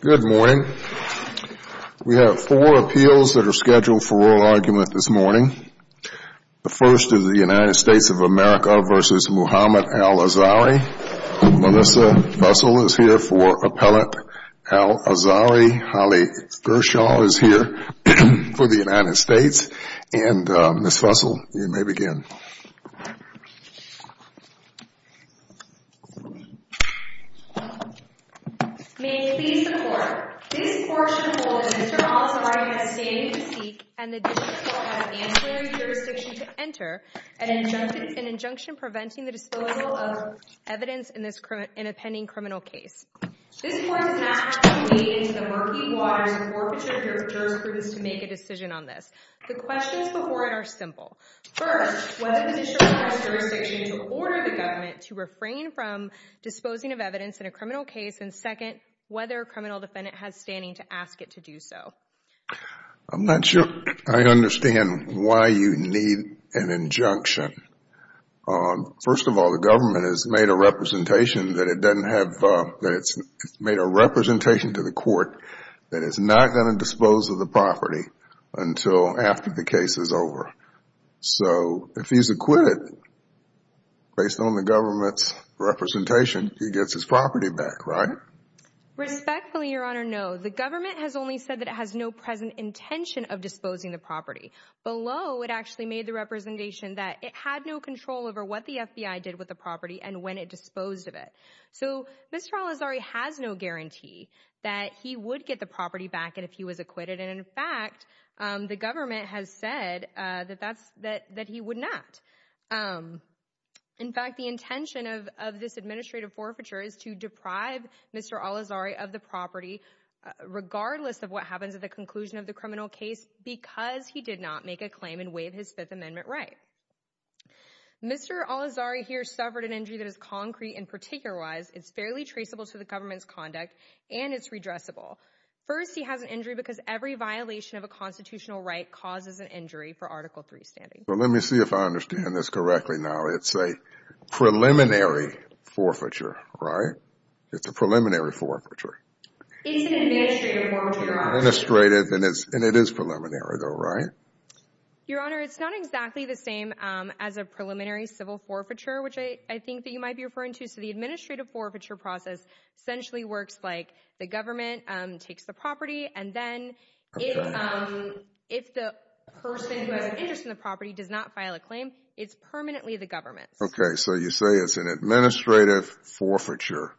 Good morning. We have four appeals that are scheduled for oral argument this morning. The first is the United States of America v. Muhammed Al-Azhari. Melissa Fussell is here for Appellate. Al-Azhari Ali Gershaw is here for the United States. And Ms. Fussell, you may begin. May it please the court, this court should hold that Mr. Al-Azhari has standing to seek and the district court has ancillary jurisdiction to enter an injunction preventing the disposal of evidence in this in a pending criminal case. This court does not have to wade into the murky waters of forfeiture jurisprudence to make a decision on this. The questions before it are simple. First, whether the district court has jurisdiction to order the government to refrain from disposing of evidence in a criminal case, and second, whether a criminal defendant has standing to ask it to do so. I'm not sure I understand why you need an injunction. First of all, the government has made a representation to the court that it's not going to dispose of property until after the case is over. So if he's acquitted, based on the government's representation, he gets his property back, right? Respectfully, Your Honor, no. The government has only said that it has no present intention of disposing the property. Below, it actually made the representation that it had no control over what the FBI did with the property and when it disposed of it. So Mr. Al-Azhari has no guarantee that he would get the property back if he was acquitted. In fact, the government has said that he would not. In fact, the intention of this administrative forfeiture is to deprive Mr. Al-Azhari of the property, regardless of what happens at the conclusion of the criminal case, because he did not make a claim and waive his Fifth Amendment right. Mr. Al-Azhari here suffered an injury that is concrete and particularized. It's fairly traceable to the government's conduct, and it's redressable. First, he has an injury because every violation of a constitutional right causes an injury for Article III standing. Let me see if I understand this correctly now. It's a preliminary forfeiture, right? It's a preliminary forfeiture. It's an administrative forfeiture, Your Honor. Administrative, and it is preliminary though, right? Your Honor, it's not exactly the same as a preliminary civil forfeiture, which I think that you might be referring to. So the administrative forfeiture process essentially works like the government takes the property, and then if the person who has an interest in the property does not file a claim, it's permanently the government's. Okay, so you say it's an administrative forfeiture,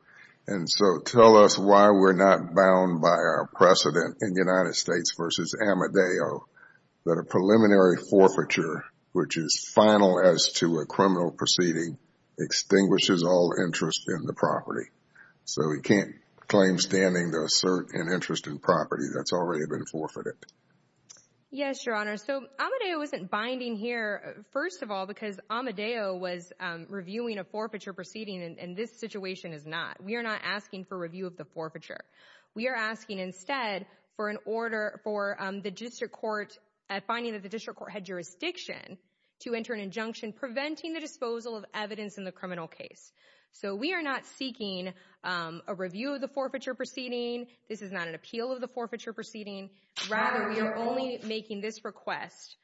and so tell us why we're not bound by our precedent in the United States v. Amadeo that a preliminary forfeiture, which is final as to a criminal proceeding, extinguishes all interest in the property. So he can't claim standing to assert an interest in property that's already been forfeited. Yes, Your Honor. So Amadeo isn't binding here, first of all, because Amadeo was reviewing a forfeiture proceeding, and this situation is not. We are not asking for review of the forfeiture. We are asking instead for an order for the district court, finding that the district court had jurisdiction to enter an injunction preventing the disposal of evidence in the criminal case. So we are not seeking a review of the forfeiture proceeding. This is not an appeal of the forfeiture proceeding. Rather, we are only making this request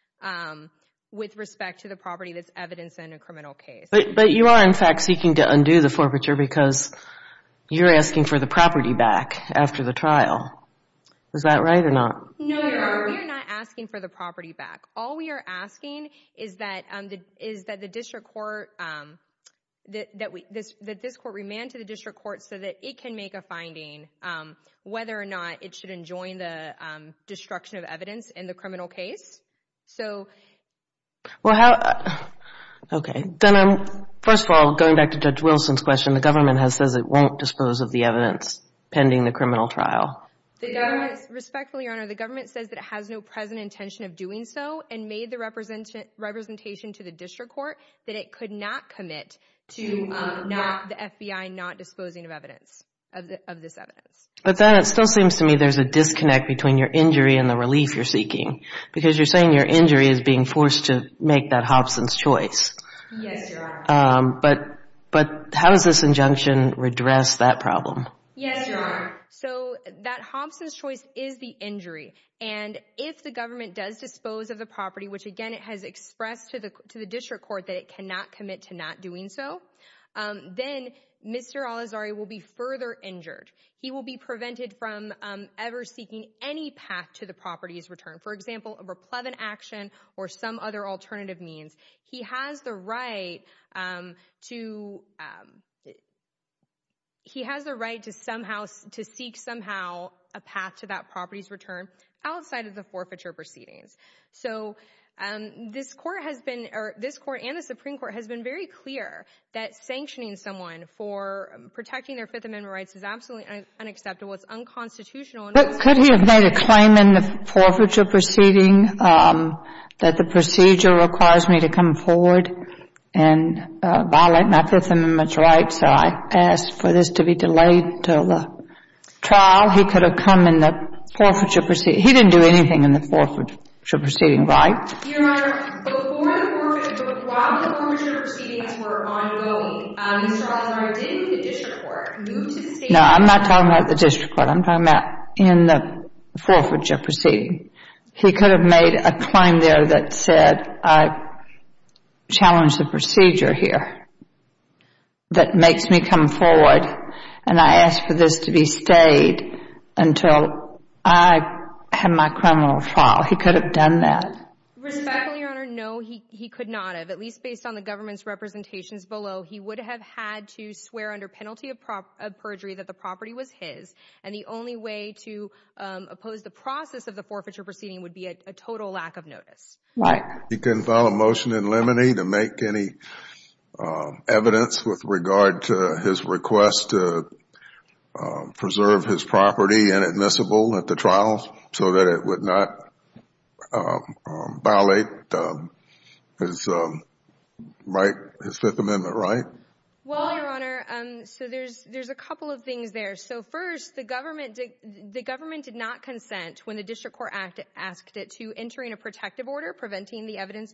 with respect to the property that's evidence in a criminal case. But you are, in fact, seeking to undo the forfeiture because you're asking for the property back after the trial. Is that right or not? No, Your Honor. We are not asking for the property back. All we are asking is that the district court, that this court remand to the district court so that it can make a finding whether or not it should enjoin the destruction of evidence in the criminal case. So... Well, how... Okay. Then, first of all, going back to Judge Wilson's question, the government says it won't dispose of the evidence pending the criminal trial. The government, respectfully, Your Honor, the government says that it has no present intention of doing so and made the representation to the district court that it could not commit to the FBI not disposing of evidence, of this evidence. But then it still seems to me there's a disconnect between your injury and the relief you're seeking because you're saying your injury is being forced to make that Hobson's choice. Yes, Your Honor. But how does this injunction redress that problem? Yes, Your Honor. So that Hobson's choice is the injury. And if the government does dispose of the property, which, again, it has expressed to the district court that it cannot commit to not doing so, then Mr. Al-Azhari will be further injured. He will be prevented from ever seeking any path to the property's return, for example, of a pleb and action or some other alternative means. He has the right to... He has the right to somehow, to seek somehow a path to that property's return outside of the forfeiture proceedings. So this Court has been, or this Court and the Supreme Court has been very clear that sanctioning someone for protecting their Fifth Amendment rights is absolutely unacceptable. It's unconstitutional. But could he have made a claim in the forfeiture proceeding that the procedure requires me to come forward and violate my Fifth Amendment rights? So I trial, he could have come in the forfeiture proceeding. He didn't do anything in the forfeiture proceeding, right? Your Honor, while the forfeiture proceedings were ongoing, Mr. Al-Azhari did with the district court move to... No, I'm not talking about the district court. I'm talking about in the forfeiture proceeding. He could have made a claim there that said, I challenge the procedure here that makes me come forward. And I asked for this to be stayed until I had my criminal file. He could have done that. Respectfully, Your Honor, no, he could not have. At least based on the government's representations below, he would have had to swear under penalty of perjury that the property was his. And the only way to oppose the process of the forfeiture proceeding would be a total lack of notice. Right. He couldn't file a motion in limine to make any evidence with regard to his request to preserve his property inadmissible at the trial so that it would not violate his Fifth Amendment right? Well, Your the district court asked it to entering a protective order preventing the evidence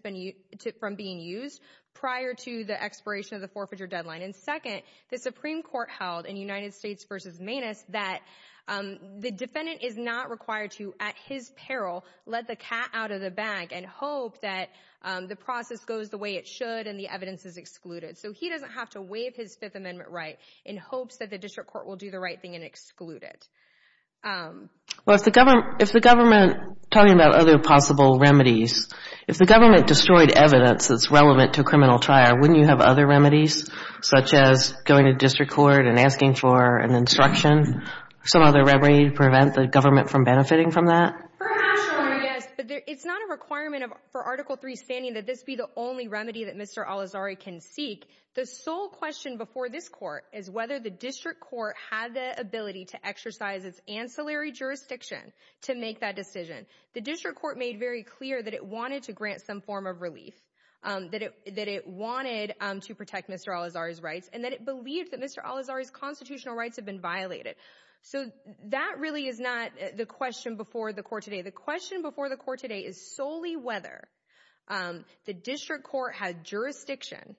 from being used prior to the expiration of the forfeiture deadline. And second, the Supreme Court held in United States v. Manus that the defendant is not required to, at his peril, let the cat out of the bag and hope that the process goes the way it should and the evidence is excluded. So he doesn't have to waive his Fifth Amendment right in hopes that the district court will do the right thing and exclude it. Well, if the government, if the government, talking about other possible remedies, if the government destroyed evidence that's relevant to a criminal trial, wouldn't you have other remedies, such as going to district court and asking for an instruction, some other remedy to prevent the government from benefiting from that? Perhaps, Your Honor, yes, but it's not a requirement for Article III standing that this be the only remedy that Mr. Al-Azhari can seek. The sole question before this court is whether the district court had the ability to exercise its ancillary jurisdiction to make that decision. The district court made very clear that it wanted to grant some form of relief, that it that it wanted to protect Mr. Al-Azhari's rights and that it believed that Mr. Al-Azhari's constitutional rights have been violated. So that really is not the question before the court today. The question before the court today is solely whether the district court had jurisdiction,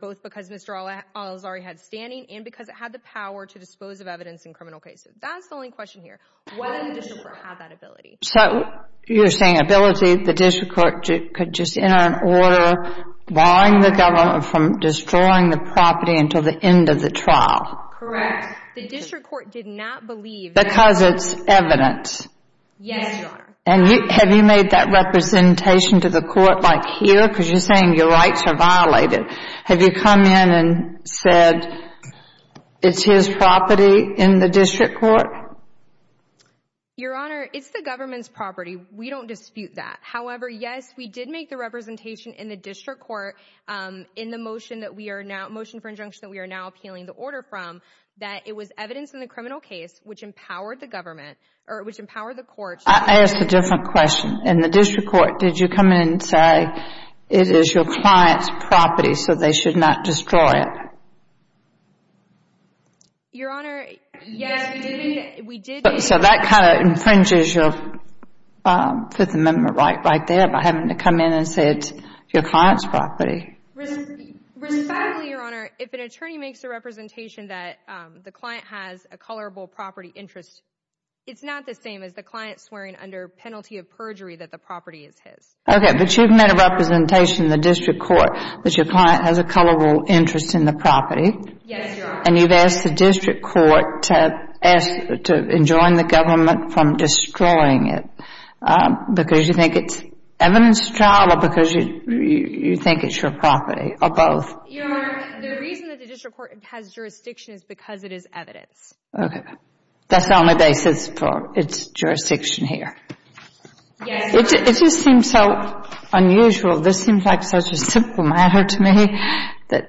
both because Mr. Al-Azhari had standing and because it had the power to dispose of evidence in criminal cases. That's the only question here, whether the district court had that ability. So you're saying ability, the district court could just enter an order barring the government from destroying the property until the end of the trial. Correct. The district court did not believe. Because it's evidence. Yes, Your Honor. Did you make that representation to the court like here? Because you're saying your rights are violated. Have you come in and said it's his property in the district court? Your Honor, it's the government's property. We don't dispute that. However, yes, we did make the representation in the district court in the motion that we are now, motion for injunction that we are now appealing the order from, that it was evidence in the criminal case which empowered the government or which empowered the court. I asked a different question. In the district court, did you come in and say it is your client's property so they should not destroy it? Your Honor, yes, we did. So that kind of infringes your Fifth Amendment right there by having to come in and say it's your client's property. Respectfully, Your Honor, if an attorney makes a representation that the client has a colorable property interest, it's not the same as the client swearing under penalty of perjury that the property is his. Okay, but you've made a representation in the district court that your client has a colorable interest in the property. Yes, Your Honor. And you've asked the district court to enjoin the government from destroying it because you think it's evidence of trial or because you think it's your property or both? Your Honor, the reason that the district court has jurisdiction is because it is evidence. Okay. That's the only basis for its jurisdiction here? Yes. It just seems so unusual. This seems like such a simple matter to me that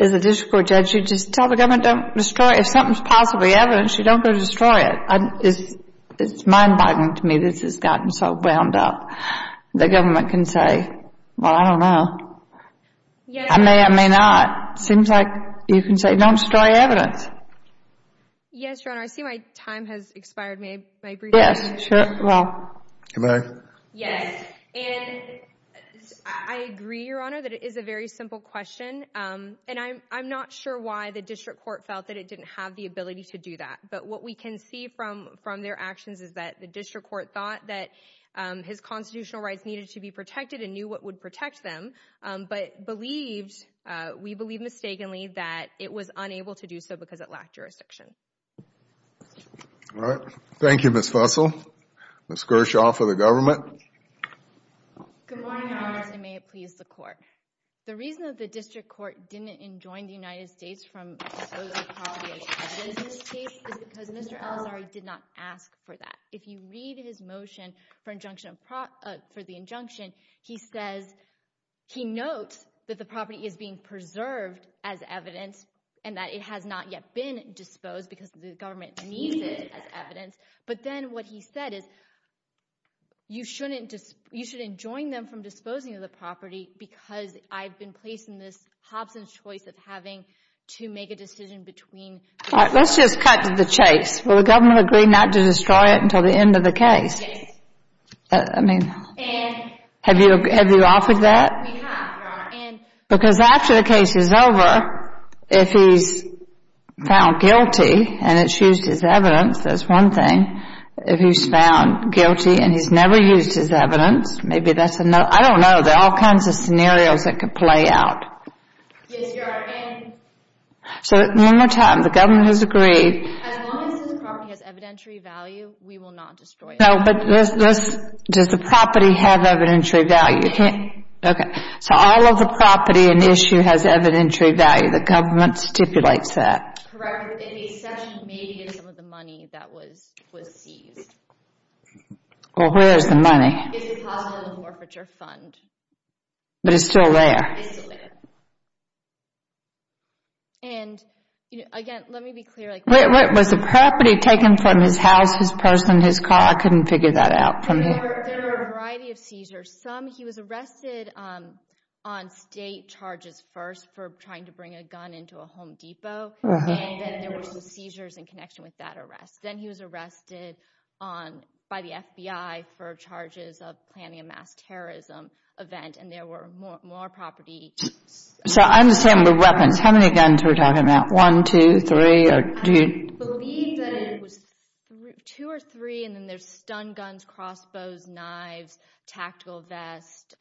as a district court judge, you just tell the government don't destroy it. If something's possibly evidence, you don't go destroy it. It's mind-boggling to me this has gotten so wound up. The government can say, well, I don't know. I may or may not. Seems like you can say don't destroy evidence. Yes, Your Honor. I see my time has expired. May I brief you? Yes, sure. I agree, Your Honor, that it is a very simple question. And I'm not sure why the district court felt that it didn't have the ability to do that. But what we can see from their actions is the district court thought that his constitutional rights needed to be protected and knew what would protect them, but we believe mistakenly that it was unable to do so because it lacked jurisdiction. All right. Thank you, Ms. Fussell. Ms. Gershaw for the government. Good morning, Your Honor. May it please the court. The reason that the district court didn't enjoin the United States from disposing of property as evidence in this case is because Mr. Alessari did not ask for that. If you read his motion for the injunction, he says he notes that the property is being preserved as evidence and that it has not yet been disposed because the government needs it as evidence. But then what he said is you shouldn't join them from disposing of the to make a decision between. All right. Let's just cut to the chase. Will the government agree not to destroy it until the end of the case? I mean, have you offered that? Because after the case is over, if he's found guilty and it's used as evidence, that's one thing. If he's found guilty and he's never used his evidence, maybe that's another. I don't know. There are all kinds of So one more time, the government has agreed. As long as this property has evidentiary value, we will not destroy it. No, but does the property have evidentiary value? Okay. So all of the property in the issue has evidentiary value. The government stipulates that. Correct. In the exception, maybe it's some of the money that was seized. Well, where is the money? It's in the hospital and the mortgagor fund. But it's still there? It's still there. And, again, let me be clear. Was the property taken from his house, his person, his car? I couldn't figure that out. There were a variety of seizures. Some, he was arrested on state charges first for trying to bring a gun into a Home Depot, and then there were some seizures in connection with that arrest. Then he was arrested by the FBI for charges of planning a mass terrorism event, and there were more property. So I understand the weapons. How many guns we're talking about? One, two, three, or do you? I believe that it was two or three, and then there's stun guns, crossbows, knives, tactical vest,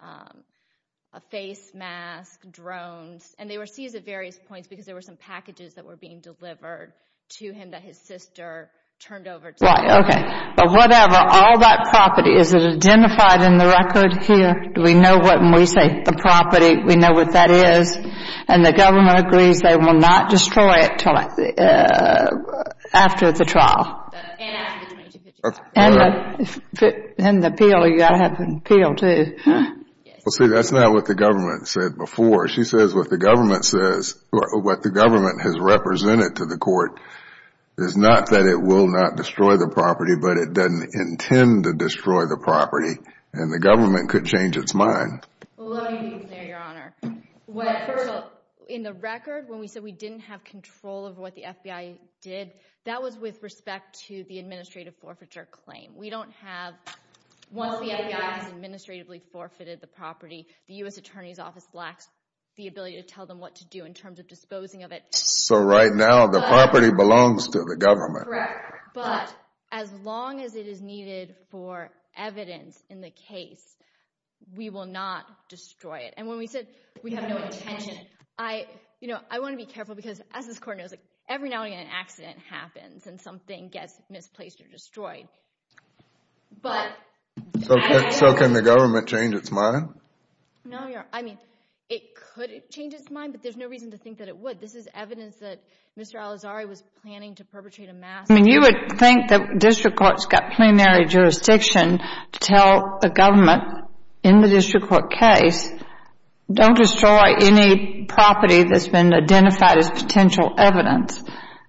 a face mask, drones, and they were seized at various points because there were some packages that were being delivered to him that his sister turned over to him. Right, okay. But whatever, all that property, is it identified in the record here? Do we know when we say the property, we know what that is, and the government agrees they will not destroy it after the trial? And the appeal, you got to have an appeal, too. Well, see, that's not what the government said before. She says what the government says, what the government has represented to the court is not that it will not destroy the property, but it doesn't intend to destroy the property, and the government could change its mind. Well, let me be clear, Your Honor. First off, in the record, when we said we didn't have control of what the FBI did, that was with respect to the administrative forfeiture claim. We don't have, once the FBI has administratively forfeited the property, the U.S. Attorney's Office lacks the ability to tell them what to do in terms of disposing of it. So right now, the property belongs to the government. But as long as it is needed for evidence in the case, we will not destroy it. And when we said we have no intention, I, you know, I want to be careful because as this court knows, every now and again, an accident happens and something gets misplaced or destroyed. But... So can the government change its mind? No, Your Honor. I mean, it could change its mind, but there's no reason to think that it would. This is evidence that Mr. Al-Azhari was planning to perpetrate a mass... I mean, you would think that district courts got plenary jurisdiction to tell the government, in the district court case, don't destroy any property that's been identified as potential evidence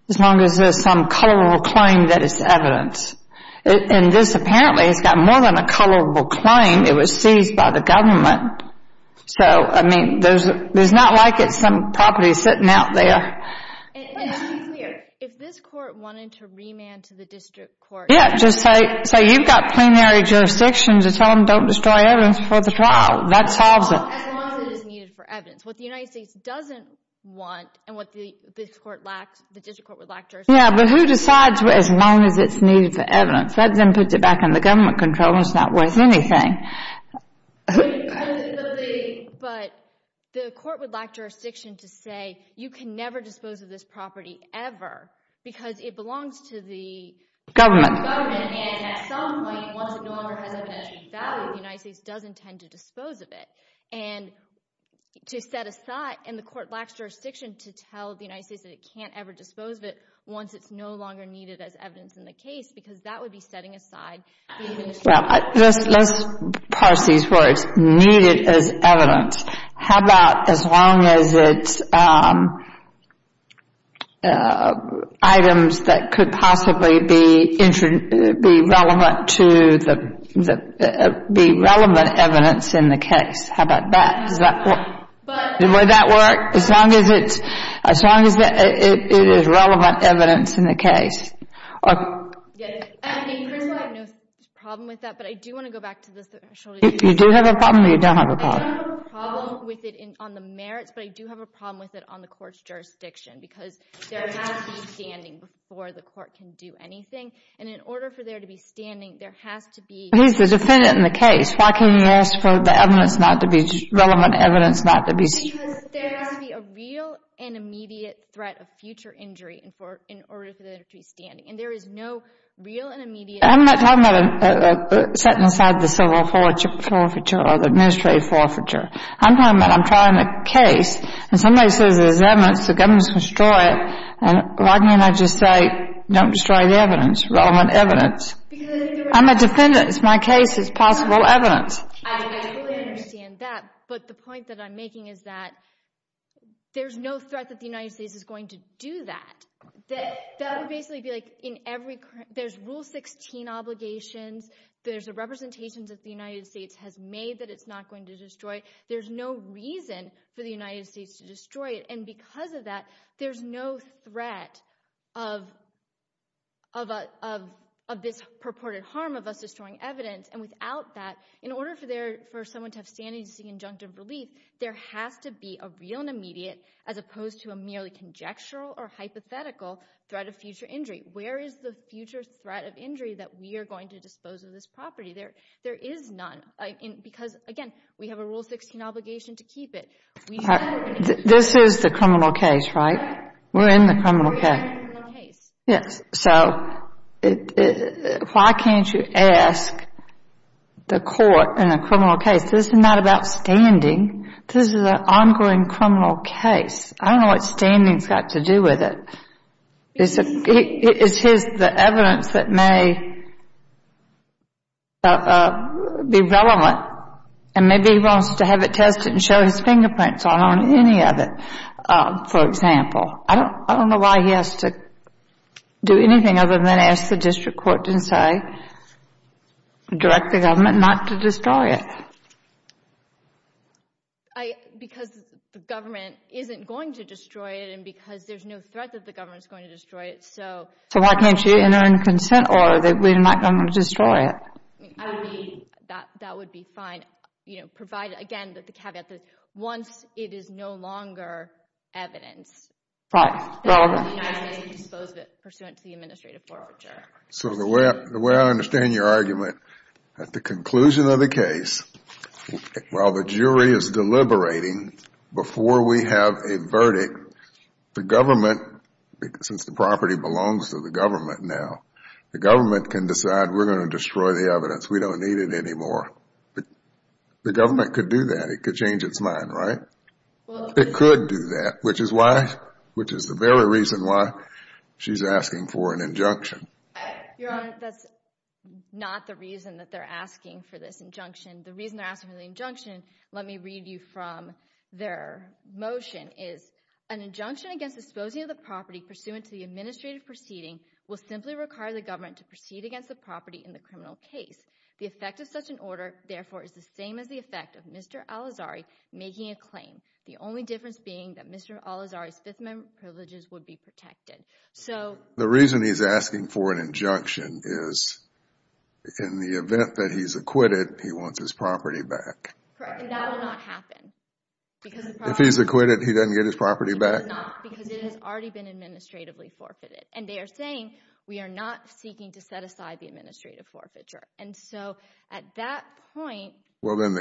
as long as there's some colorable claim that it's evidence. And this apparently has got more than a colorable claim. It was seized by the government. So, I mean, there's not like it's some property sitting out there. If this court wanted to remand to the district court... Yeah, just say you've got plenary jurisdiction to tell them don't destroy evidence for the trial. That solves it. As long as it is needed for evidence. What the United States doesn't want and what this court lacks, the district court would lack jurisdiction. Yeah, but who decides as long as it's needed for evidence? That then puts it back in the government control and it's not worth anything. But the court would lack jurisdiction to say you can never dispose of this property ever because it belongs to the government. And at some point, once it no longer has evidential value, the United States does intend to dispose of it and to set aside. And the court lacks jurisdiction to tell the United States that it can't ever dispose of it once it's no longer needed as evidence in the case, because that would be setting aside. Well, let's parse these words, needed as evidence. How about as long as it's items that could possibly be relevant evidence in the case? How about that? Would that work? As long as it is relevant evidence in the case? Okay, yeah. And first of all, I have no problem with that, but I do want to go back to the threshold issue. You do have a problem or you don't have a problem? I don't have a problem with it on the merits, but I do have a problem with it on the court's jurisdiction because there has to be standing before the court can do anything. And in order for there to be standing, there has to be. He's the defendant in the case. Why can't he ask for the evidence not to be, relevant evidence not to be? Because there has to be a real and immediate threat of future injury in order for there to be standing. And there is no real and immediate. I'm not talking about setting aside the civil forfeiture or the administrative forfeiture. I'm talking about I'm trying a case, and somebody says there's evidence, the government's destroyed, and why can't I just say, don't destroy the evidence, relevant evidence? I'm a defendant. It's my case. It's possible evidence. I fully understand that, but the point that I'm making is that there's no threat that the United States is going to do that. That would basically be like in every, there's rule 16 obligations. There's a representation that the United States has made that it's not going to destroy. There's no reason for the United States to destroy it. And because of that, there's no threat of this purported harm of us destroying evidence. And without that, in order for someone to have standing to seek injunctive relief, there has to be a real and immediate as opposed to a merely conjectural or hypothetical threat of future injury. Where is the future threat of injury that we are going to dispose of this property? There is none. Because again, we have a rule 16 obligation to keep it. This is the criminal case, right? We're in the criminal case. We're in the criminal case. Yes. So why can't you ask the court in a criminal case, this is not about standing. This is an ongoing criminal case. I don't know what standing's got to do with it. Is his, the evidence that may be relevant and maybe he wants to have it tested and show his Do anything other than ask the district court to say, direct the government not to destroy it. Because the government isn't going to destroy it and because there's no threat that the government's going to destroy it, so. So why can't you enter in a consent order that we're not going to destroy it? I would be, that would be fine, you know, provided again that the caveat once it is no longer evidence. So the way I understand your argument, at the conclusion of the case, while the jury is deliberating, before we have a verdict, the government, since the property belongs to the government now, the government can decide we're going to mine, right? It could do that, which is why, which is the very reason why she's asking for an injunction. Your Honor, that's not the reason that they're asking for this injunction. The reason they're asking for the injunction, let me read you from their motion, is an injunction against disposing of the property pursuant to the administrative proceeding will simply require the government to proceed against the property in the criminal case. The effect of such an order, therefore, is the same as the effect of Mr. Al-Azhari making a claim. The only difference being that Mr. Al-Azhari's Fifth Amendment privileges would be protected. So the reason he's asking for an injunction is in the event that he's acquitted, he wants his property back. Correct, and that will not happen. If he's acquitted, he doesn't get his property back? He does not, because it has already been administratively forfeited, and they are saying we are not seeking to set aside the administrative forfeiture. And so at that point... Well then,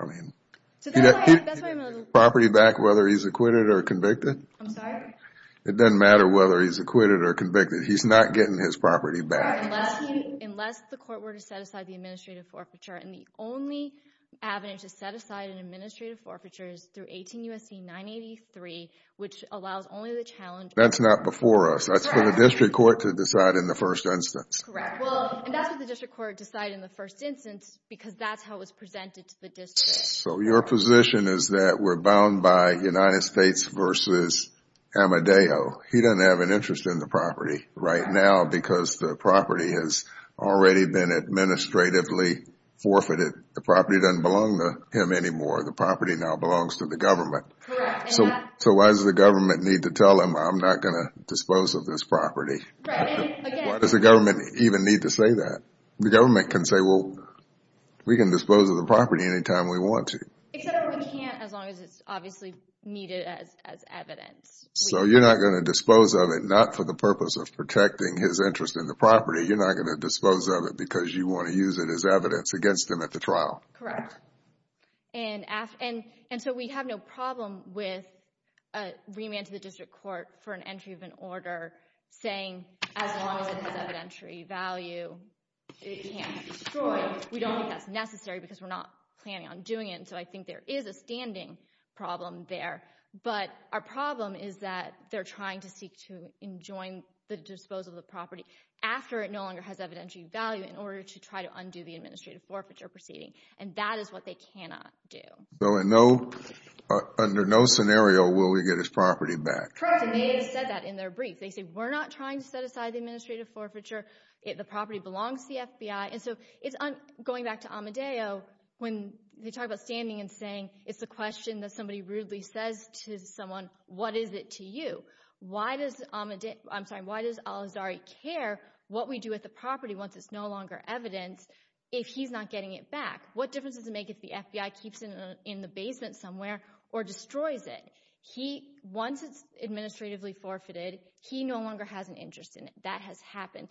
I mean... So that's why I'm a little... Property back, whether he's acquitted or convicted? I'm sorry? It doesn't matter whether he's acquitted or convicted. He's not getting his property back. Unless the court were to set aside the administrative forfeiture, and the only avenue to set aside an administrative forfeiture is through 18 U.S.C. 983, which allows only the challenge... That's not before us. That's for the district court to decide in the first instance. Correct. And that's what the district court decided in the first instance, because that's how it was presented to the district. So your position is that we're bound by United States v. Amadeo. He doesn't have an interest in the property right now because the property has already been administratively forfeited. The property doesn't belong to him anymore. The property now belongs to the government. So why does the government need to tell him, I'm not going to dispose of this property? Why does the government even need to say that? The government can say, well, we can dispose of the property anytime we want to. Except we can't as long as it's obviously needed as evidence. So you're not going to dispose of it, not for the purpose of protecting his interest in the property. You're not going to dispose of it because you want to use it as evidence against him at the trial. Correct. And so we have no problem with a remand to the district court for an entry of an order saying as long as it has evidentiary value, it can't be destroyed. We don't think that's necessary because we're not planning on doing it. And so I think there is a standing problem there. But our problem is that they're trying to seek to enjoin the disposal of the property after it no longer has evidentiary value in order to try to undo the administrative forfeiture proceeding. And that is what they cannot do. So under no scenario will we get his property back? Correct. And they have said that in their brief. They say we're not trying to set aside the administrative forfeiture. The property belongs to the FBI. And so going back to Amadeo, when they talk about standing and saying it's a question that somebody rudely says to someone, what is it to you? Why does Al-Azhari care what we do with the property once it's no longer evidence if he's not getting it back? What difference does it make if the FBI keeps it in the basement somewhere or destroys it? Once it's administratively forfeited, he no longer has an interest in it. That has happened.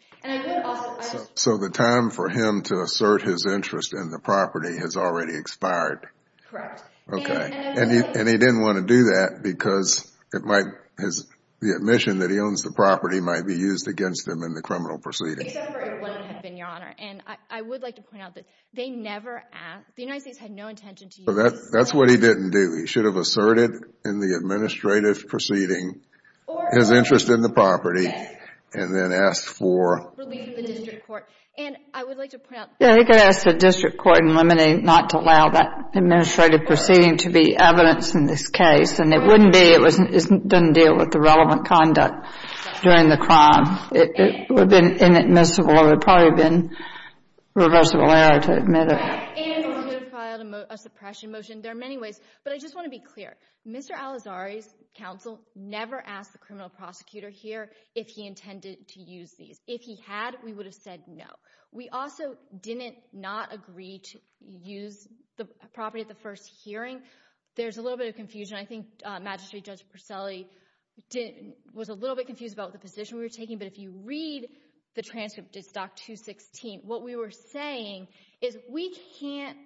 So the time for him to assert his interest in the property has already expired? Correct. Okay. And he didn't want to do that because the admission that he owns the property might be used against him in the criminal proceeding. Except for it wouldn't have been, Your Honor. And I would like to point out that they never asked. The United States had no intention to use it. That's what he didn't do. He should have asserted in the administrative proceeding his interest in the property and then asked for relief from the district court. And I would like to point out. Yeah, he could have asked the district court in Lemini not to allow that administrative proceeding to be evidence in this case. And it wouldn't be. It doesn't deal with the relevant conduct during the crime. It would have been inadmissible. It would have probably been reversible error to admit it. And it would have filed a suppression motion. There are many ways. But I just want to be clear. Mr. Alizari's counsel never asked the criminal prosecutor here if he intended to use these. If he had, we would have said no. We also didn't not agree to use the property at the first hearing. There's a little bit of confusion. I think Magistrate Judge Perselli was a little bit confused about the position we were taking. But if you read the transcript to Stock 216, what we were saying is we can't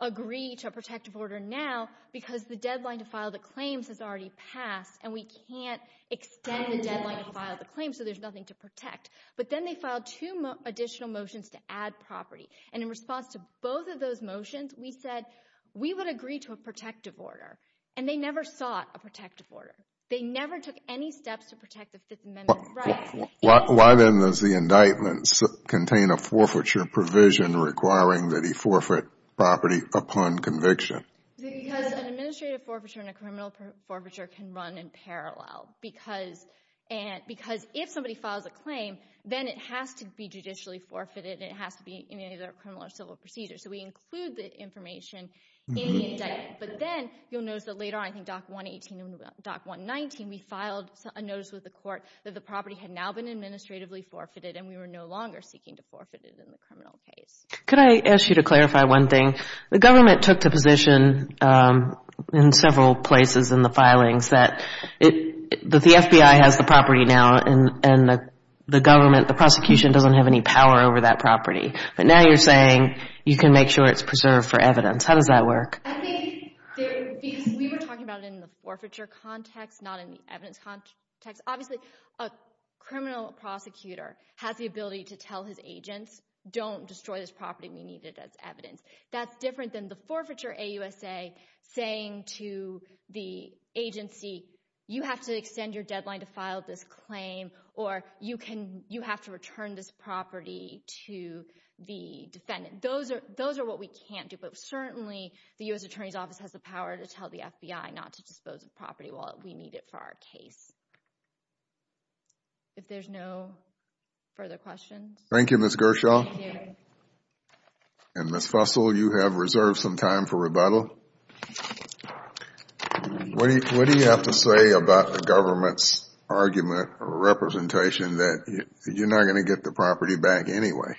agree to a protective order now because the deadline to file the claims has already passed. And we can't extend the deadline to file the claims. So there's nothing to protect. But then they filed two additional motions to add property. And in response to both of those motions, we said we would agree to a protective order. And they never sought a protective order. They never took any steps to protect the Fifth Amendment rights. Why then does the indictment contain a forfeiture provision requiring that he forfeit property upon conviction? Because an administrative forfeiture and a criminal forfeiture can run in parallel. Because if somebody files a claim, then it has to be judicially forfeited. It has to be a criminal or civil procedure. So we include the information in the indictment. But then you'll notice that later on, I think Doc 118 and Doc 119, we filed a notice with the court that the property had now been administratively forfeited and we were no longer seeking to forfeit it in the criminal case. Could I ask you to clarify one thing? The government took the position in several places in the filings that the FBI has the property now and the government, the prosecution doesn't have any power over that property. But now you're saying you can make sure it's preserved for evidence. How does that work? I think because we were talking about it in the forfeiture context, not in the evidence context. Obviously, a criminal prosecutor has the ability to tell his agents, don't destroy this property. We need it as evidence. That's different than the forfeiture AUSA saying to the agency, you have to extend your deadline to file this claim or you have to dispose of the property to the defendant. Those are what we can't do. But certainly, the U.S. Attorney's Office has the power to tell the FBI not to dispose of the property while we need it for our case. If there's no further questions. Thank you, Ms. Gershaw. And Ms. Fussell, you have reserved some time for rebuttal. What do you have to say about the government's argument or representation that you're not going to get the property back anyway?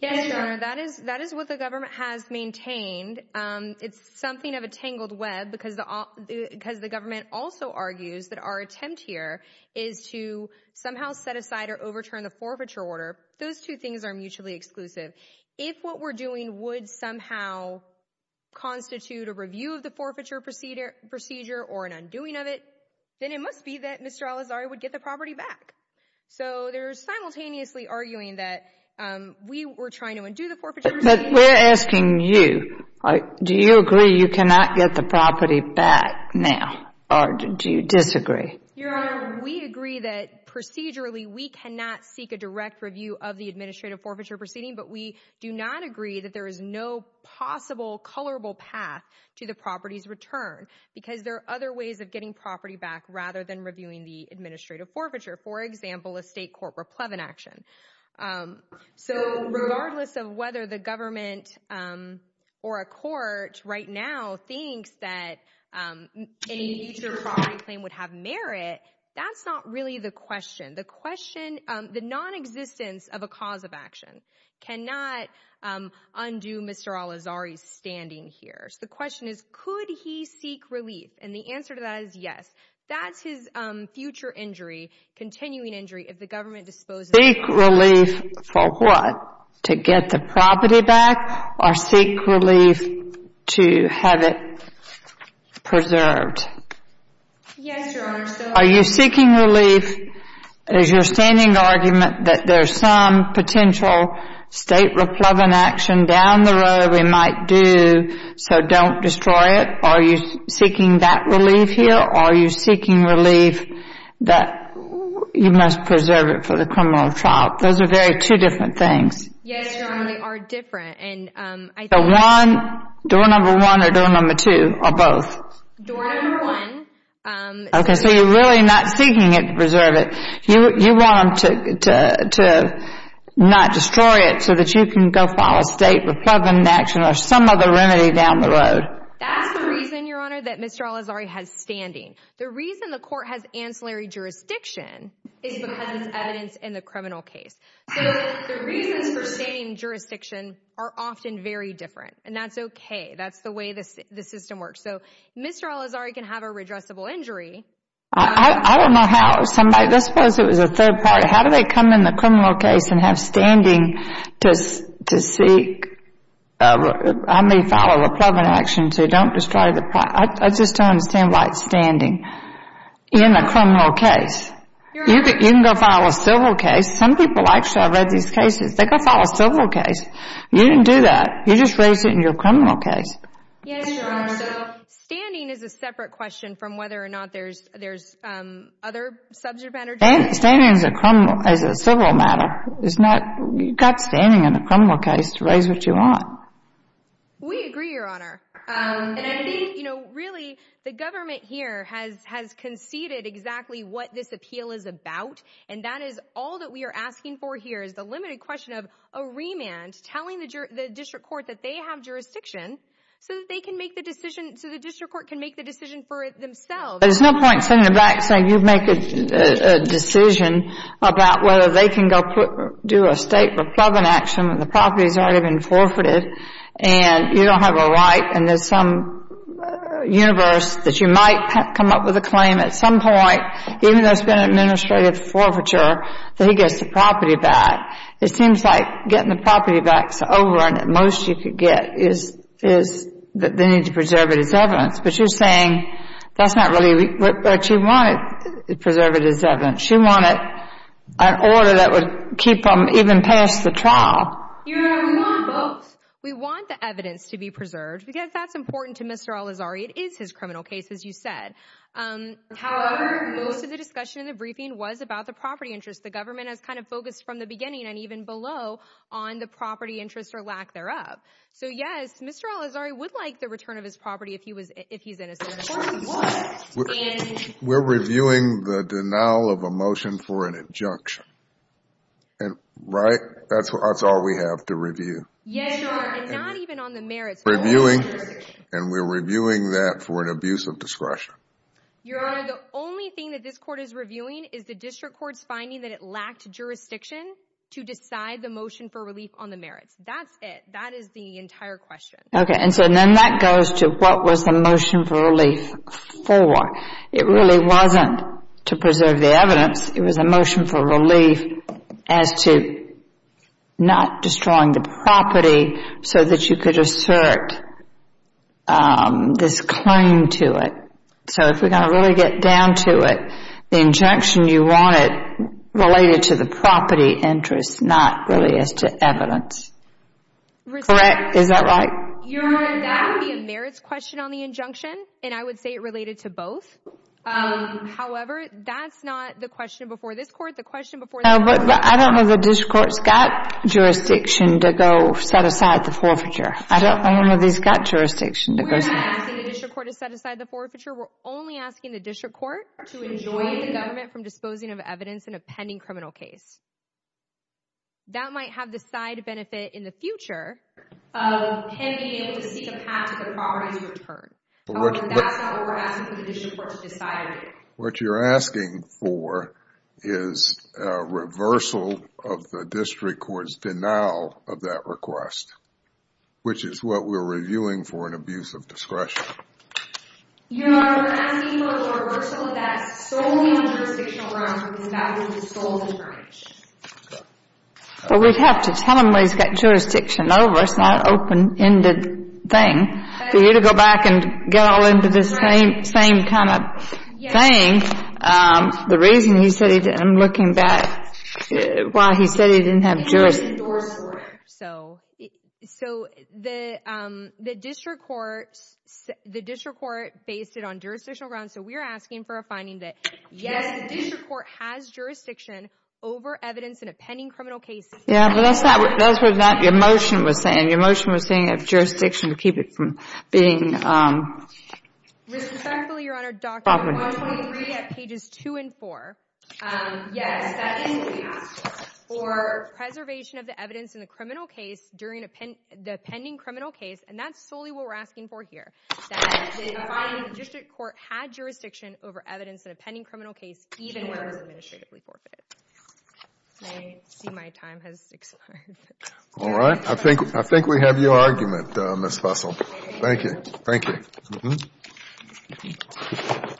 Yes, Your Honor. That is what the government has maintained. It's something of a tangled web because the government also argues that our attempt here is to somehow set aside or overturn the forfeiture order. Those two things are mutually exclusive. If what we're doing would somehow constitute a review of the forfeiture procedure or an undoing of it, then it must be that Mr. Al-Azhari would get the property back. So they're simultaneously arguing that we were trying to undo the forfeiture. But we're asking you, do you agree you cannot get the property back now or do you disagree? Your Honor, we agree that procedurally we cannot seek a direct review of the administrative forfeiture proceeding, but we do not agree that there is no possible colorable path to property's return because there are other ways of getting property back rather than reviewing the administrative forfeiture. For example, a state court replevant action. So regardless of whether the government or a court right now thinks that a future property claim would have merit, that's not really the question. The non-existence of a cause of action cannot undo Mr. Al-Azhari's standing here. So the question is, could he seek relief? And the answer to that is yes. That's his future injury, continuing injury, if the government disposes of it. Seek relief for what? To get the property back or seek relief to have it preserved? Yes, Your Honor. Are you seeking relief as your standing argument that there's some potential state replevant action down the road we might do so don't destroy it? Are you seeking that relief here or are you seeking relief that you must preserve it for the criminal trial? Those are very two different things. Yes, Your Honor, they are different. The one, door number one or door number two or both? Door number one. Okay, so you're really not seeking it to preserve it. You want them to not destroy it so that you can go file a state repugnant action or some other remedy down the road. That's the reason, Your Honor, that Mr. Al-Azhari has standing. The reason the court has ancillary jurisdiction is because it's evidence in the criminal case. So the reasons for standing jurisdiction are often very different and that's okay. That's the way the system works. So Mr. Al-Azhari can have a redressable injury. I don't know how somebody, let's suppose it was a third party, how do they come in the criminal case and have standing to seek, I mean, file a repugnant action to don't destroy the, I just don't understand why it's standing in a criminal case. You can go file a civil case. Some people, actually, I've read these cases, they go file a civil case. You didn't do that. You just raised it in your criminal case. Yes, Your Honor, so separate question from whether or not there's other subject matter. Standing is a civil matter. You've got standing in a criminal case to raise what you want. We agree, Your Honor. And I think, really, the government here has conceded exactly what this appeal is about and that is all that we are asking for here is the limited question of a remand telling the district court that they have jurisdiction so that they can make the decision, so the district court can make the decision for themselves. There's no point sitting in the back saying you make a decision about whether they can go do a state repugnant action when the property has already been forfeited and you don't have a right and there's some universe that you might come up with a claim at some point, even though it's been an administrative forfeiture, that he gets the property back. It seems like getting the evidence, but you're saying that's not really what you want. Preserve it as evidence. You want an order that would keep them even past the trial. Your Honor, we want both. We want the evidence to be preserved because that's important to Mr. Al-Azhari. It is his criminal case, as you said. However, most of the discussion in the briefing was about the property interest. The government has kind of focused from the beginning and even below on the property interest or lack thereof. So, yes, Mr. Al-Azhari would like the return of property if he's innocent. We're reviewing the denial of a motion for an injunction, and that's all we have to review. Yes, Your Honor, and not even on the merits. And we're reviewing that for an abuse of discretion. Your Honor, the only thing that this court is reviewing is the district court's finding that it lacked jurisdiction to decide the motion for relief on the merits. That's it. That is the entire question. Okay, and so then that goes to what was the motion for relief for. It really wasn't to preserve the evidence. It was a motion for relief as to not destroying the property so that you could assert this claim to it. So if we're going to really get down to it, the injunction you wanted related to the property interest, not really as to evidence. Correct? Is that right? Your Honor, that would be a merits question on the injunction, and I would say it related to both. However, that's not the question before this court. The question before. I don't know if the district court's got jurisdiction to go set aside the forfeiture. I don't know if it's got jurisdiction. We're not asking the district court to set aside the forfeiture. We're only asking the district in a pending criminal case. That might have the side benefit in the future of him being able to seek a path to the property's return. But that's not what we're asking for the district court to decide. What you're asking for is a reversal of the district court's denial of that request, which is what we're reviewing for an abuse of discretion. Your Honor, we're not asking for a reversal of that solely on jurisdictional grounds, because that would be the sole differentiation. Well, we'd have to tell him what he's got jurisdiction over. It's not an open-ended thing for you to go back and get all into this same kind of thing. The reason he said he didn't, I'm looking back, why he said he didn't have So, the district court based it on jurisdictional grounds. So, we're asking for a finding that yes, the district court has jurisdiction over evidence in a pending criminal case. Yeah, but that's what your motion was saying. Your motion was saying it has jurisdiction to keep it from being... Respectfully, Your Honor, document 123 at pages 2 and 4, yes, that is what we asked for. Preservation of the evidence in the criminal case during the pending criminal case, and that's solely what we're asking for here, that the finding of the district court had jurisdiction over evidence in a pending criminal case even where it was administratively forfeited. I see my time has expired. All right. I think we have your argument, Ms. Fussell. Thank you. Thank you.